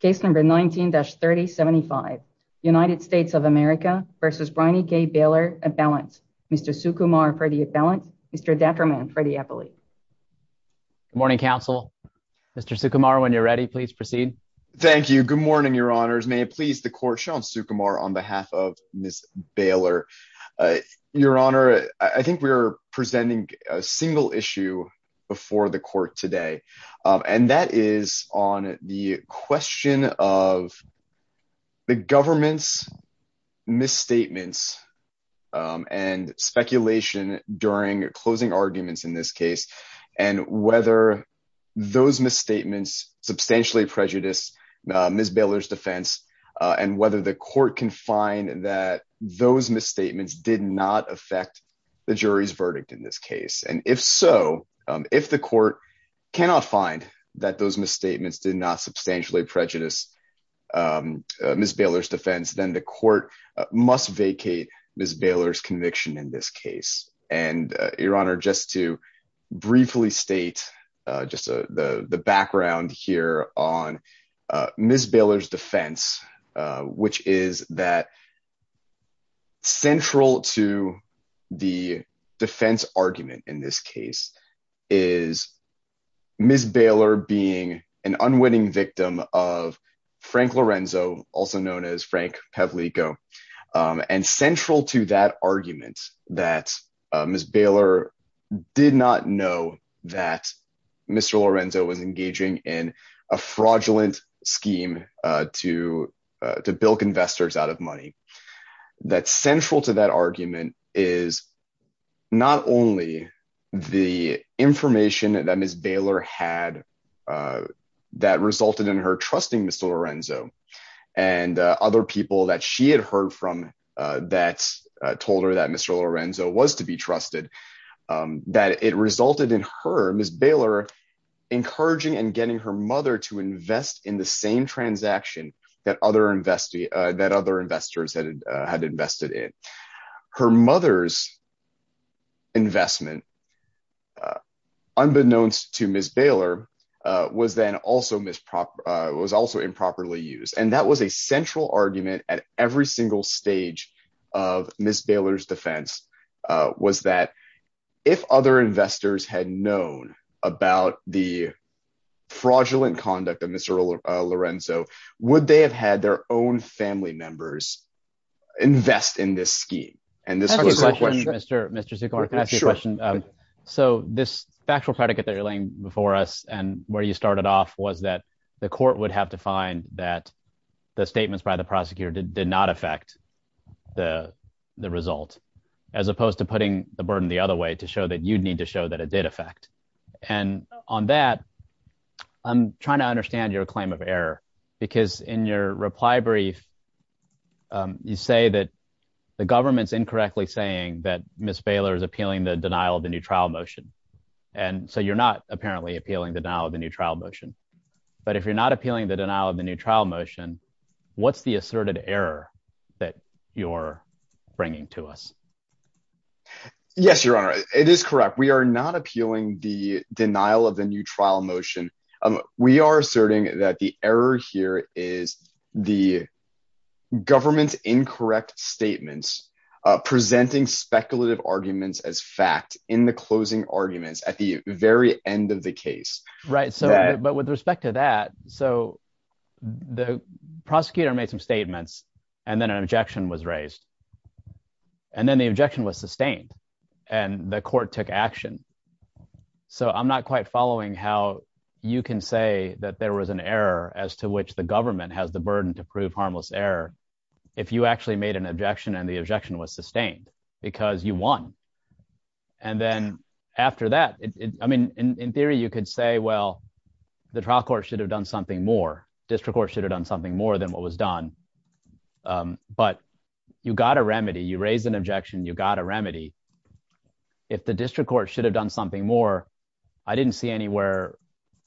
case number 19-3075. United States of America v. Brynee Gay Baylor at balance. Mr. Sukumar for the at balance. Mr. Detriman for the appellate. Good morning, counsel. Mr. Sukumar, when you're ready, please proceed. Thank you. Good morning, your honors. May it please the court, Sean Sukumar on behalf of Ms. Baylor. Your honor, I think we are presenting a single issue before the court today, and that is on the question of the government's misstatements and speculation during closing arguments in this case, and whether those misstatements substantially prejudice Ms. Baylor's defense, and whether the court can find that those misstatements did not affect the jury's verdict in this case. And if so, if the court cannot find that those misstatements did not substantially prejudice Ms. Baylor's defense, then the court must vacate Ms. Baylor's conviction in this case. And your honor, just to briefly state just the background here on Ms. Baylor's defense, which is that central to the defense argument in this case is Ms. Baylor being an unwitting victim of Frank Lorenzo, also known as Frank Pavlico, and central to that argument that Ms. Baylor did not know that Mr. Lorenzo was engaging in a fraudulent scheme to bilk investors out of money. That central to that argument is not only the information that Ms. Baylor had that resulted in her trusting Mr. Lorenzo, and other people that she had heard from that told her that Mr. Lorenzo was to be trusted, that it resulted in her, Ms. Baylor, encouraging and getting her mother to invest in the same transaction that other investors had invested in. Her mother's investment, unbeknownst to Ms. Baylor, was then also improperly used. And that was a central argument at every single stage of Ms. Baylor's defense, was that if other investors had known about the fraudulent conduct of Mr. Lorenzo, would they have had their own family members invest in this scheme? And this was a question- Can I ask you a question, Mr. Seacorn? Can I ask you a question? So this factual predicate that you're laying before us and where you started off was that the court would have to find that the statements by the prosecutor did not affect the result, as opposed to putting the burden the other way to show that you'd need to show that it did affect. And on that, I'm trying to understand your claim of error, because in your reply brief, you say that the government's incorrectly saying that Ms. Baylor is appealing the denial of the new trial motion. And so you're not apparently appealing the denial of the new trial motion. But if you're not appealing the denial of the new trial motion, what's the asserted error that you're bringing to us? Yes, Your Honor, it is correct. We are not appealing the denial of the new trial motion. We are asserting that the error here is the government's incorrect statements, presenting speculative arguments as fact in the closing arguments at the very end of the case. Right. But with respect to that, so the prosecutor made some statements and then an objection was raised. And then the objection was sustained and the court took action. So I'm not quite following how you can say that there was an error as to which the government has the burden to prove harmless error if you actually made an objection and the objection was sustained because you won. And then after that, I mean, in theory, you could say, well, the trial court should have done something more. District court should have done something more than what was done. But you got a remedy. You raised an objection. You got a remedy. If the district court should have done something more, I didn't see anywhere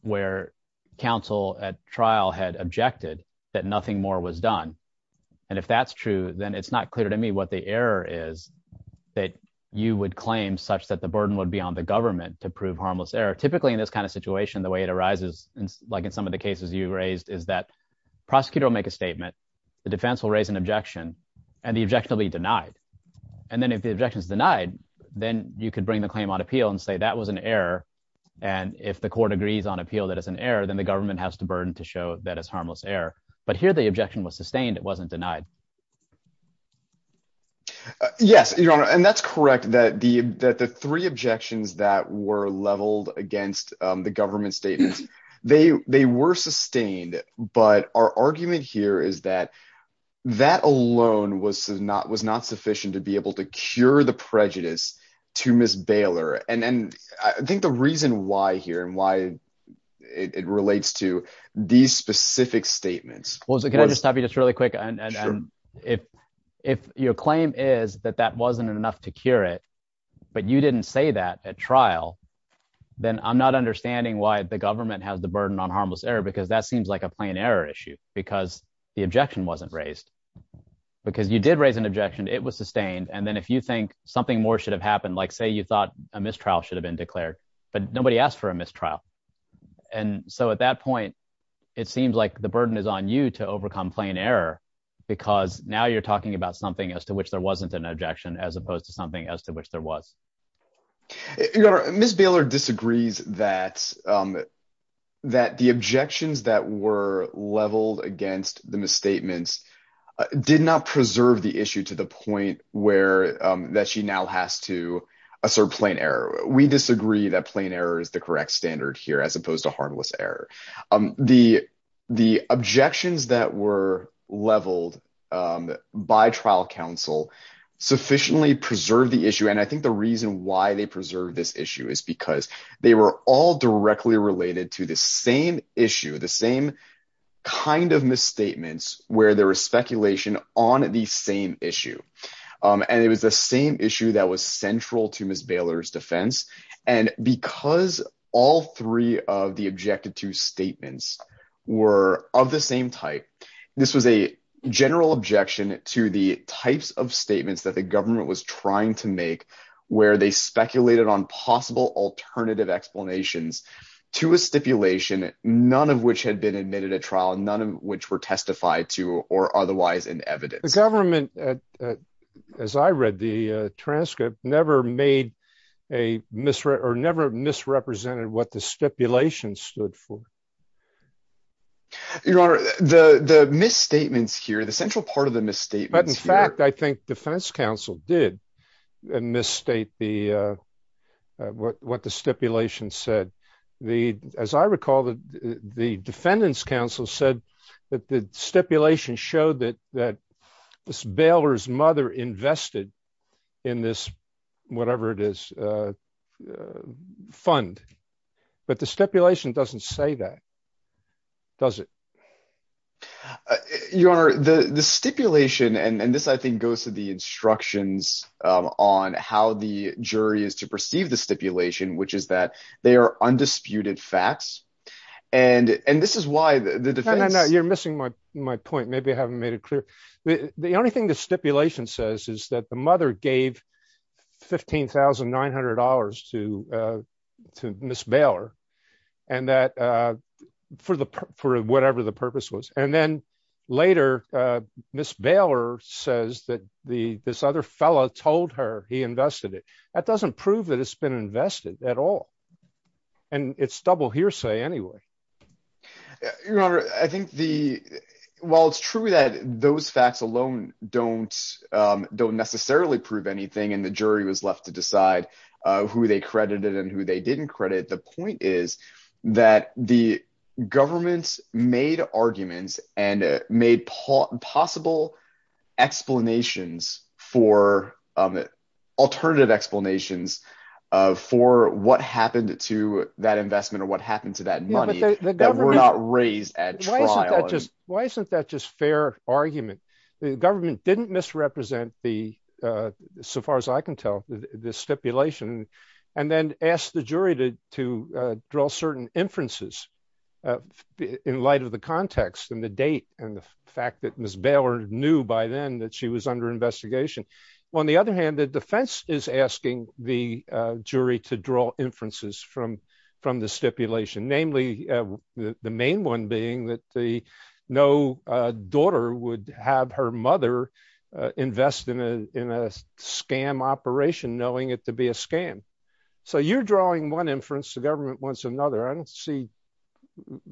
where counsel at trial had objected that nothing more was done. And if that's true, then it's not clear to me what the error is that you would claim such that the burden would be on the government to prove harmless error. Typically, in this kind of situation, the way it arises, like in some of the cases you raised, is that prosecutor will make a statement, the defense will raise an objection and the objection will be denied. And then if the objection is denied, then you could bring the claim on appeal and say that was an error. And if the court agrees on appeal, that is an error, then the government has to burden to show that it's harmless error. But here the yes. And that's correct, that the that the three objections that were leveled against the government statements, they they were sustained. But our argument here is that that alone was not was not sufficient to be able to cure the prejudice to Miss Baylor. And then I think the reason why here and why it relates to these specific statements was really quick. And if if your claim is that that wasn't enough to cure it, but you didn't say that at trial, then I'm not understanding why the government has the burden on harmless error, because that seems like a plain error issue, because the objection wasn't raised. Because you did raise an objection, it was sustained. And then if you think something more should have happened, like say you thought a mistrial should have been declared, but nobody asked for a mistrial. And so at that point, it seems like the burden is on you to overcome plain error. Because now you're talking about something as to which there wasn't an objection as opposed to something as to which there was. Miss Baylor disagrees that that the objections that were leveled against the misstatements did not preserve the issue to the point where that she now has to assert plain error. We disagree that plain error is the correct standard here as opposed to harmless error. The objections that were leveled by trial counsel sufficiently preserve the issue. And I think the reason why they preserve this issue is because they were all directly related to the same issue, the same kind of misstatements, where there was speculation on the same issue. And it was the same issue that was central to Miss Baylor's defense. And because all three of the objected to statements were of the same type, this was a general objection to the types of statements that the government was trying to make, where they speculated on possible alternative explanations to a stipulation, none of which had been admitted at trial, none of which were testified to or otherwise in evidence. The government, as I read the transcript, never misrepresented what the stipulation stood for. Your Honor, the misstatements here, the central part of the misstatements here- But in fact, I think defense counsel did misstate what the stipulation said. As I recall, the defendant's counsel said that the stipulation showed that Miss Baylor's mother invested in this, whatever it is, fund. But the stipulation doesn't say that, does it? Your Honor, the stipulation, and this, I think, goes to the instructions on how the jury is to and this is why the defense- No, no, no. You're missing my point. Maybe I haven't made it clear. The only thing the stipulation says is that the mother gave $15,900 to Miss Baylor for whatever the purpose was. And then later, Miss Baylor says that this other fellow told her he invested it. That doesn't prove that it's been invested at all. And it's double hearsay anyway. Your Honor, I think the- While it's true that those facts alone don't necessarily prove anything and the jury was left to decide who they credited and who they didn't credit, the point is that the explanations for what happened to that investment or what happened to that money were not raised at trial. Why isn't that just fair argument? The government didn't misrepresent the, so far as I can tell, the stipulation and then asked the jury to draw certain inferences in light of the context and the date and the fact that Miss Baylor knew by then that she was under investigation. On the other hand, the defense is asking the jury to draw inferences from the stipulation, namely the main one being that no daughter would have her mother invest in a scam operation knowing it to be a scam. So you're drawing one inference, the government wants another. I don't see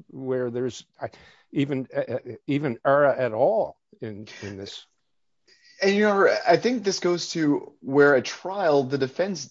where there's even error at all in this. And Your Honor, I think this goes to where at trial, the defense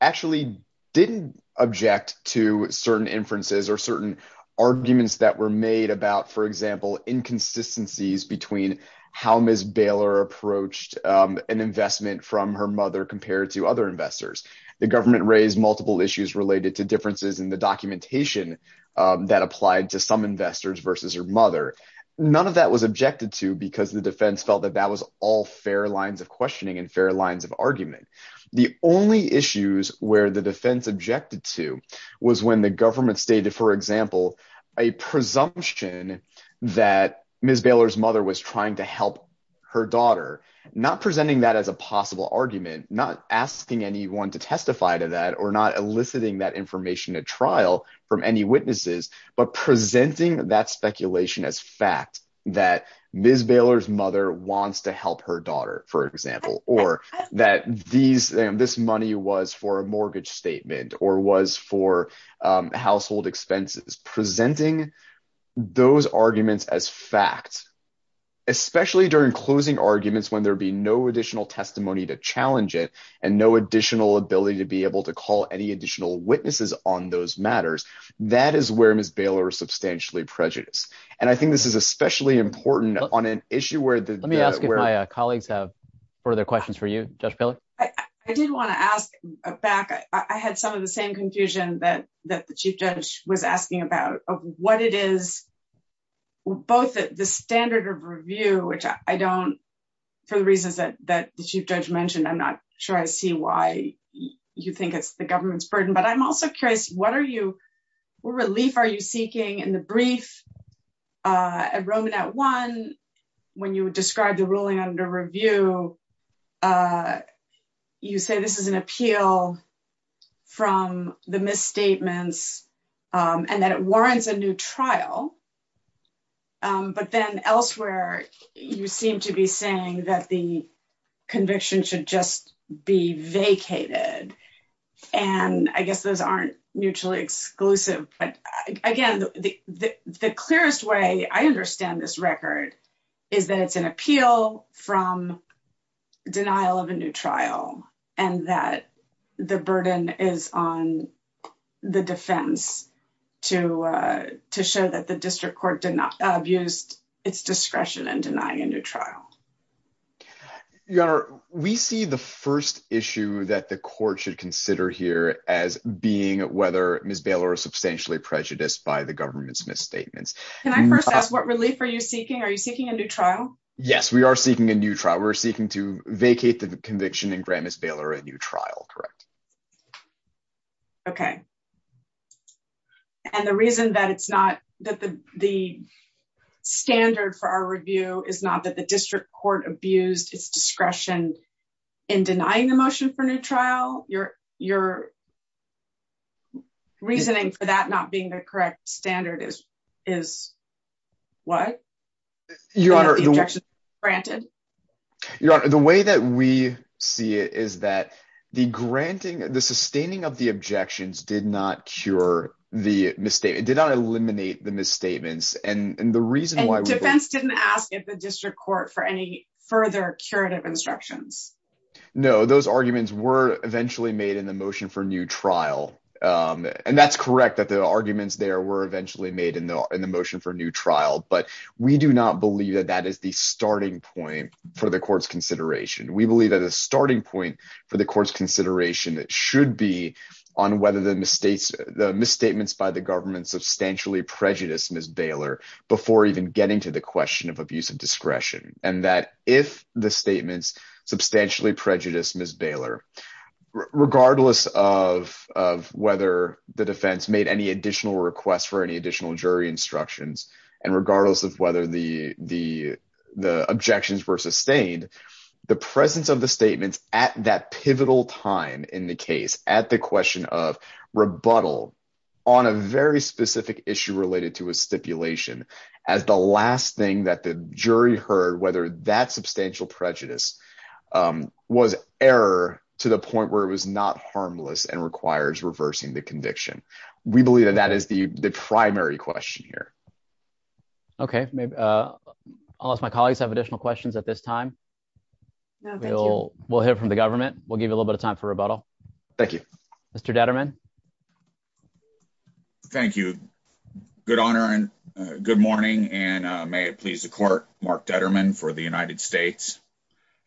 actually didn't object to certain inferences or certain arguments that were made about, for example, inconsistencies between how Miss Baylor approached an investment from her mother compared to other investors. The government raised multiple issues related to differences in the documentation that applied to some investors versus her mother. None of that was objected to because the defense felt that that was all fair lines of questioning and fair lines of argument. The only issues where the defense objected to was when the government stated, for example, a presumption that Miss Baylor's mother was trying to help her daughter, not presenting that as a possible argument, not asking anyone to testify to that or not eliciting that information at trial from any witnesses, but presenting that speculation as fact that Miss Baylor's mother wants to help her daughter, for example, or that this money was for a mortgage statement or was for household expenses. Presenting those arguments as fact, especially during closing arguments when there'd be no additional testimony to challenge it and no additional ability to be able to call any additional witnesses on those matters, that is where Miss Baylor was substantially prejudiced. And I think this is especially important on an issue where the- Let me ask if my colleagues have further questions for you, Judge Piller. I did want to ask back. I had some of the same confusion that the chief judge was asking about, of what it is, both the standard of review, which I don't, for the reasons that the chief judge mentioned, I'm not sure I see why you think it's the government's burden, but I'm also curious, what are you, what relief are you seeking in the brief at Roman at one, when you would describe the ruling under review, you say this is an appeal from the misstatements and that it warrants a new trial. But then elsewhere, you seem to be saying that the conviction should just be vacated. And I guess those aren't mutually exclusive, but again, the clearest way I understand this record is that it's an appeal from denial of a new trial and that the burden is on the defense to show that the district court did not abuse its discretion in denying a new trial. Your Honor, we see the first issue that the court should consider here as being whether Ms. Baylor is substantially prejudiced by the government's misstatements. Can I first ask what relief are you seeking? Are you seeking a new trial? Yes, we are seeking a new trial. We're seeking to vacate the conviction and grant Ms. Baylor a new trial. And the reason that it's not, that the standard for our review is not that the district court abused its discretion in denying the motion for new trial. Your reasoning for that not being the correct standard is what? Your Honor, the way that we see it is that the granting, the sustaining of the objections did not cure the misstatement, did not eliminate the misstatements. And the reason why- And defense didn't ask if the district court for any further curative instructions. No, those arguments were eventually made in the motion for new trial. And that's correct, that the arguments there were eventually made in the motion for new trial. But we do not believe that that is the starting point for the court's consideration. We believe that the starting point for the court's consideration should be on whether the misstatements by the government substantially prejudiced Ms. Baylor before even getting to the question of abuse of discretion. And that if the statements substantially prejudiced Ms. Baylor, regardless of whether the defense made any additional requests for any additional jury instructions, and regardless of the objections were sustained, the presence of the statements at that pivotal time in the case, at the question of rebuttal on a very specific issue related to a stipulation, as the last thing that the jury heard, whether that substantial prejudice was error to the point where it was not harmless and requires reversing the conviction. We believe that that is the I'll ask my colleagues have additional questions at this time. We'll hear from the government. We'll give you a little bit of time for rebuttal. Thank you, Mr. Detterman. Thank you. Good honor. And good morning. And may it please the court, Mark Detterman for the United States.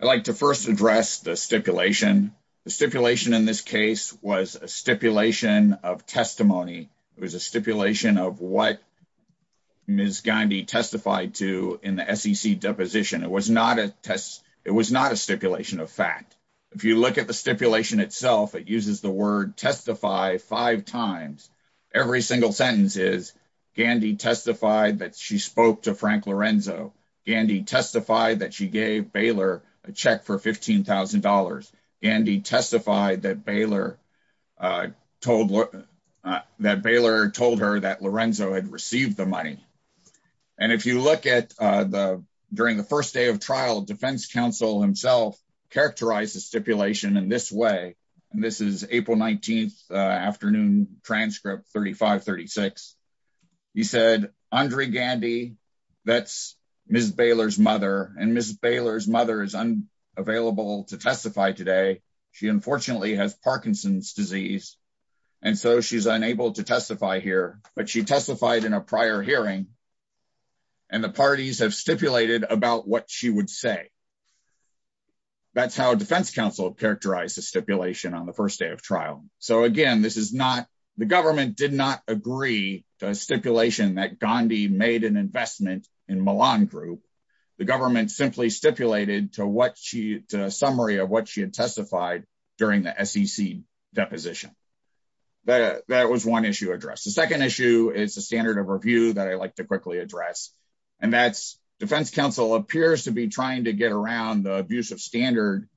I'd like to first address the stipulation. The stipulation in this case was a stipulation of testimony. It was a stipulation of what Ms. Gandy testified to in the SEC deposition. It was not a test. It was not a stipulation of fact. If you look at the stipulation itself, it uses the word testify five times. Every single sentence is Gandy testified that she spoke to Frank Lorenzo. Gandy testified that she gave Baylor a check for $15,000. Gandy testified that Baylor I told that Baylor told her that Lorenzo had received the money. And if you look at the during the first day of trial, defense counsel himself characterized the stipulation in this way. And this is April 19th afternoon, transcript 3536. He said, Andre Gandy, that's Ms. Baylor's mother and Ms. Baylor's mother is available to testify today. She unfortunately has Parkinson's disease. And so she's unable to testify here, but she testified in a prior hearing. And the parties have stipulated about what she would say. That's how defense counsel characterized the stipulation on the first day of trial. So again, this is not the government did not agree to a stipulation that Gandhi made an stipulated to what she summary of what she had testified during the SEC deposition. That was one issue addressed. The second issue is the standard of review that I like to quickly address. And that's defense counsel appears to be trying to get around the abuse of standard.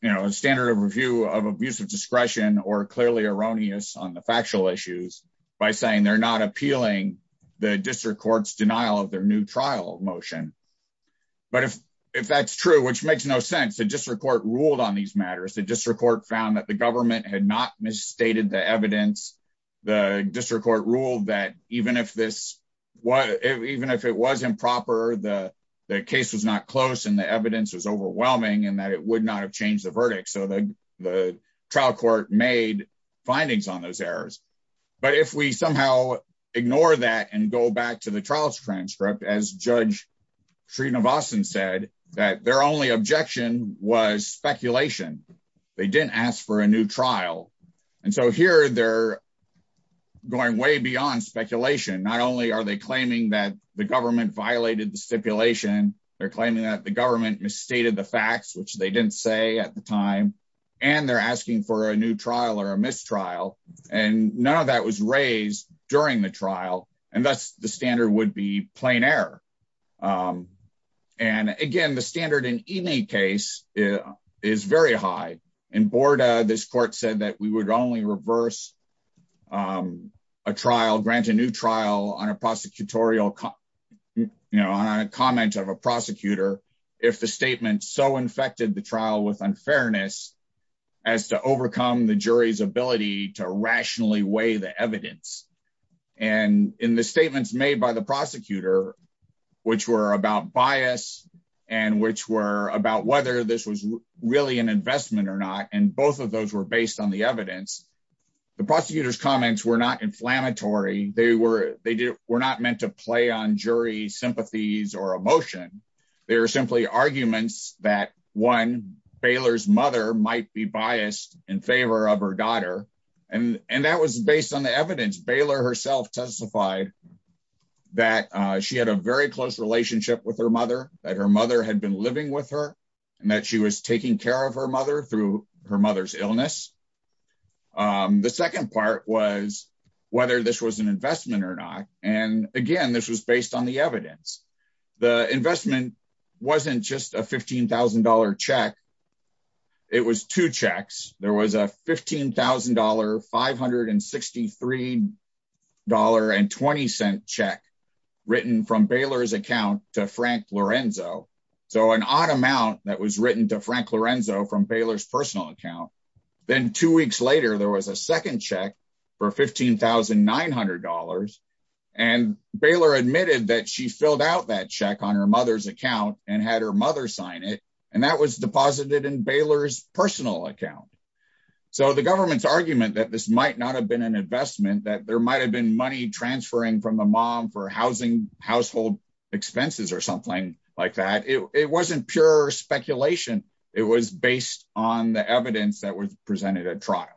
You know, a standard of review of abuse of discretion or clearly erroneous on the factual issues by saying they're not appealing the district court's denial of their new trial motion. But if that's true, which makes no sense, the district court ruled on these matters, the district court found that the government had not misstated the evidence. The district court ruled that even if this was even if it was improper, the case was not close and the evidence was overwhelming and that it would not have changed the verdict. So the trial court made findings on those errors. But if we somehow ignore that and go back to the trials transcript, as Judge Sreenivasan said, that their only objection was speculation. They didn't ask for a new trial. And so here they're going way beyond speculation. Not only are they claiming that the government violated the stipulation, they're claiming that the government misstated the facts, which they didn't say at the time. And they're asking for a new trial or a mistrial. And none of that was raised during the trial. And that's the standard would be plain error. And again, the standard in any case is very high. In Borda, this court said that we would only reverse a trial, grant a new trial on a prosecutorial, you know, on a comment of a jury. And the jury was so infected the trial with unfairness as to overcome the jury's ability to rationally weigh the evidence. And in the statements made by the prosecutor, which were about bias, and which were about whether this was really an investment or not, and both of those were based on the evidence. The prosecutor's comments were not inflammatory. They were they did were meant to play on jury sympathies or emotion. They were simply arguments that one Baylor's mother might be biased in favor of her daughter. And and that was based on the evidence. Baylor herself testified that she had a very close relationship with her mother, that her mother had been living with her, and that she was taking care of her mother through her mother's illness. The second part was whether this was an investment or not. And again, this was based on the evidence. The investment wasn't just a $15,000 check. It was two checks. There was a $15,563.20 check written from Baylor's account to Frank Lorenzo. So an odd amount that was written to Frank Lorenzo from Baylor's personal account. Then two weeks later, there was a second check for $15,900. And Baylor admitted that she filled out that check on her mother's account and had her mother sign it. And that was deposited in Baylor's personal account. So the government's argument that this might not have been an investment that there might have been money transferring from the mom for housing household expenses or something like that it wasn't pure speculation. It was based on the evidence that was presented at trial.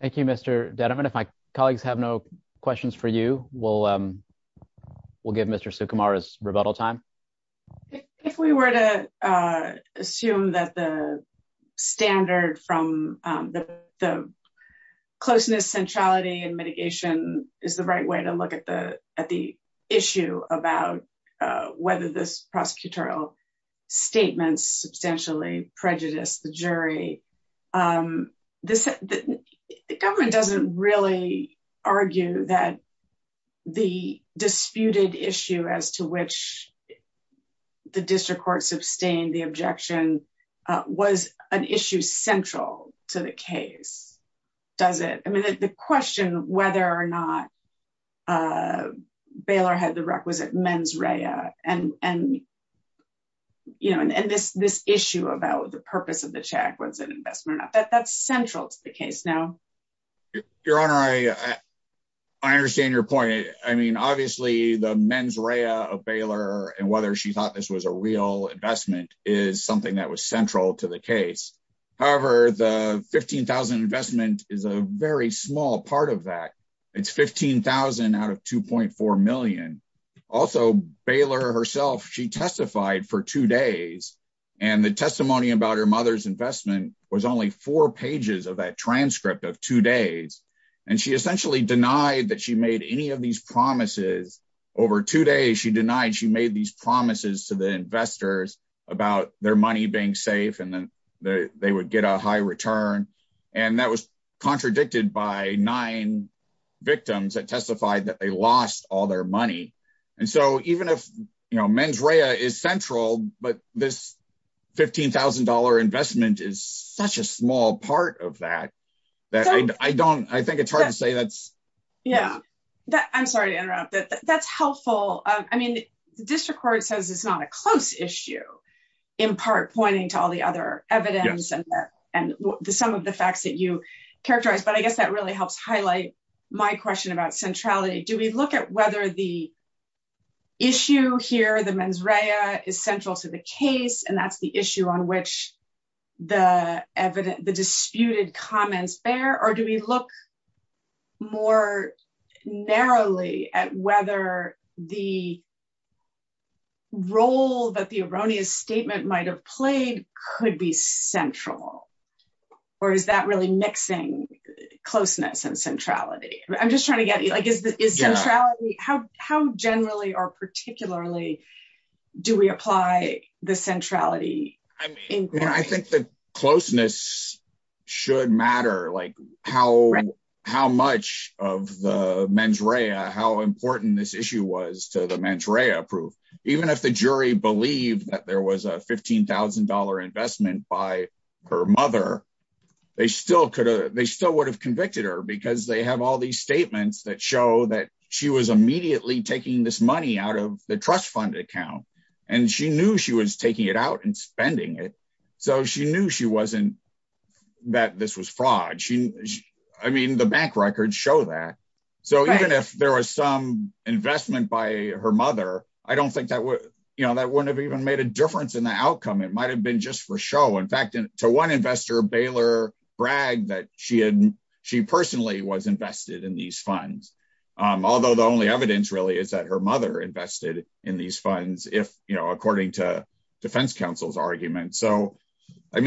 Thank you, Mr. Dedeman. If my colleagues have no questions for you, we'll give Mr. Sukumar's rebuttal time. If we were to assume that the standard from the closeness centrality and issue about whether this prosecutorial statement substantially prejudiced the jury, the government doesn't really argue that the disputed issue as to which the district court sustained the objection was an issue central to the case, does it? I mean, the question whether or not Baylor had the requisite mens rea and this issue about the purpose of the check was an investment or not, that's central to the case now. Your Honor, I understand your point. I mean, obviously, the mens rea of Baylor and whether she thought this was a real investment is something that was central to the case. However, the $15,000 investment is a very small part of that. It's $15,000 out of $2.4 million. Also, Baylor herself, she testified for two days. And the testimony about her mother's investment was only four pages of that transcript of two days. And she essentially denied that she made any of these promises. Over two days, she denied she made these promises to the investors about their money being safe, and then they would get a high return. And that was contradicted by nine victims that testified that they lost all their money. And so even if mens rea is central, but this $15,000 investment is such a small part of that, that I don't I think it's hard to say that's... Yeah, I'm sorry to interrupt. That's helpful. I mean, the district court says it's not a close issue, in part pointing to all the other evidence and some of the facts that you characterize. But I guess that really helps highlight my question about centrality. Do we look at whether the issue here, the mens rea, is central to the case, and that's the issue on which the disputed comments bear? Or do we look more narrowly at whether the role that the erroneous statement might have played could be central? Or is that really mixing closeness and centrality? I'm just trying to get, like, is centrality... How generally or particularly do we apply the centrality inquiry? I mean, I think the closeness should matter, like how much of the mens rea, how important this issue was to the mens rea proof. Even if the jury believed that there was a $15,000 investment by her mother, they still would have convicted her because they have all these statements that show that she was immediately taking this money out of the trust fund account. And she knew she was taking it out and spending it. So she knew she was fraud. I mean, the bank records show that. So even if there was some investment by her mother, I don't think that wouldn't have even made a difference in the outcome. It might have been just for show. In fact, to one investor, Baylor bragged that she personally was invested in these funds. Although the only evidence really is that her mother invested in these funds, according to I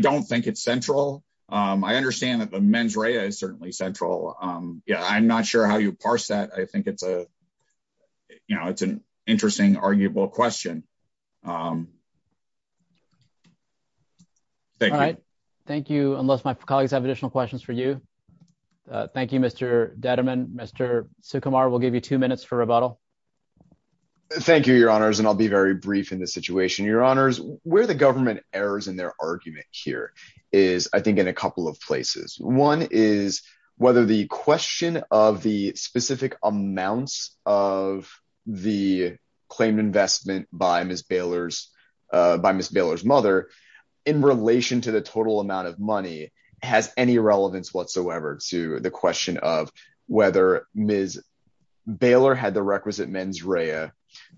don't think it's central. I understand that the mens rea is certainly central. I'm not sure how you parse that. I think it's an interesting, arguable question. All right. Thank you. Unless my colleagues have additional questions for you. Thank you, Mr. Dediman. Mr. Sukumar, we'll give you two minutes for rebuttal. Thank you, your honors. And I'll be very brief in this situation. Your honors, where the government errors in their argument here is, I think, in a couple of places. One is whether the question of the specific amounts of the claimed investment by Ms. Baylor's mother in relation to the total amount of money has any relevance whatsoever to the question of Ms. Baylor had the requisite mens rea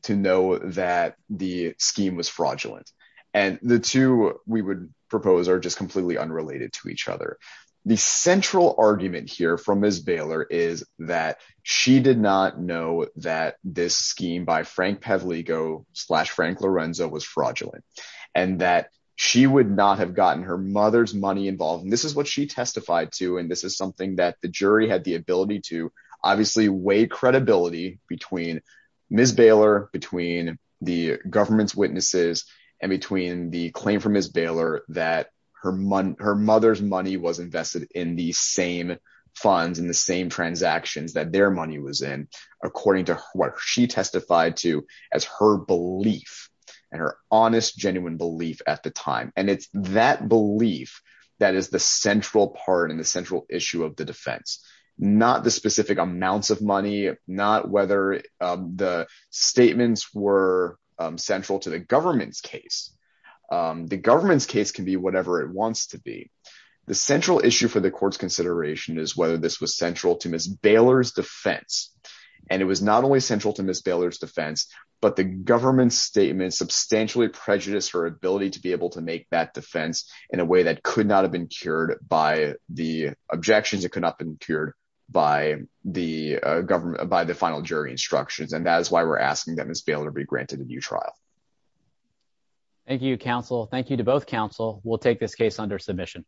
to know that the scheme was fraudulent. And the two we would propose are just completely unrelated to each other. The central argument here from Ms. Baylor is that she did not know that this scheme by Frank Pavliko slash Frank Lorenzo was fraudulent and that she would not have gotten her mother's money involved. And this is what she testified to. And this is something that the jury had the ability to obviously weigh credibility between Ms. Baylor, between the government's witnesses and between the claim from Ms. Baylor that her mother's money was invested in the same funds and the same transactions that their money was in, according to what she testified to as her belief and her honest, genuine belief at the time. And it's that belief that is the central part and the central issue of the defense, not the specific amounts of money, not whether the statements were central to the government's case. The government's case can be whatever it wants to be. The central issue for the court's consideration is whether this was central to Ms. Baylor's defense. And it was not only central to Ms. Baylor's defense, but the government's statement substantially prejudiced her ability to be able to make that defense in a way that could not have been cured by the objections. It could not have been cured by the government, by the final jury instructions. And that is why we're asking Ms. Baylor to be granted a new trial. Thank you, counsel. Thank you to both counsel. We'll take this case under submission.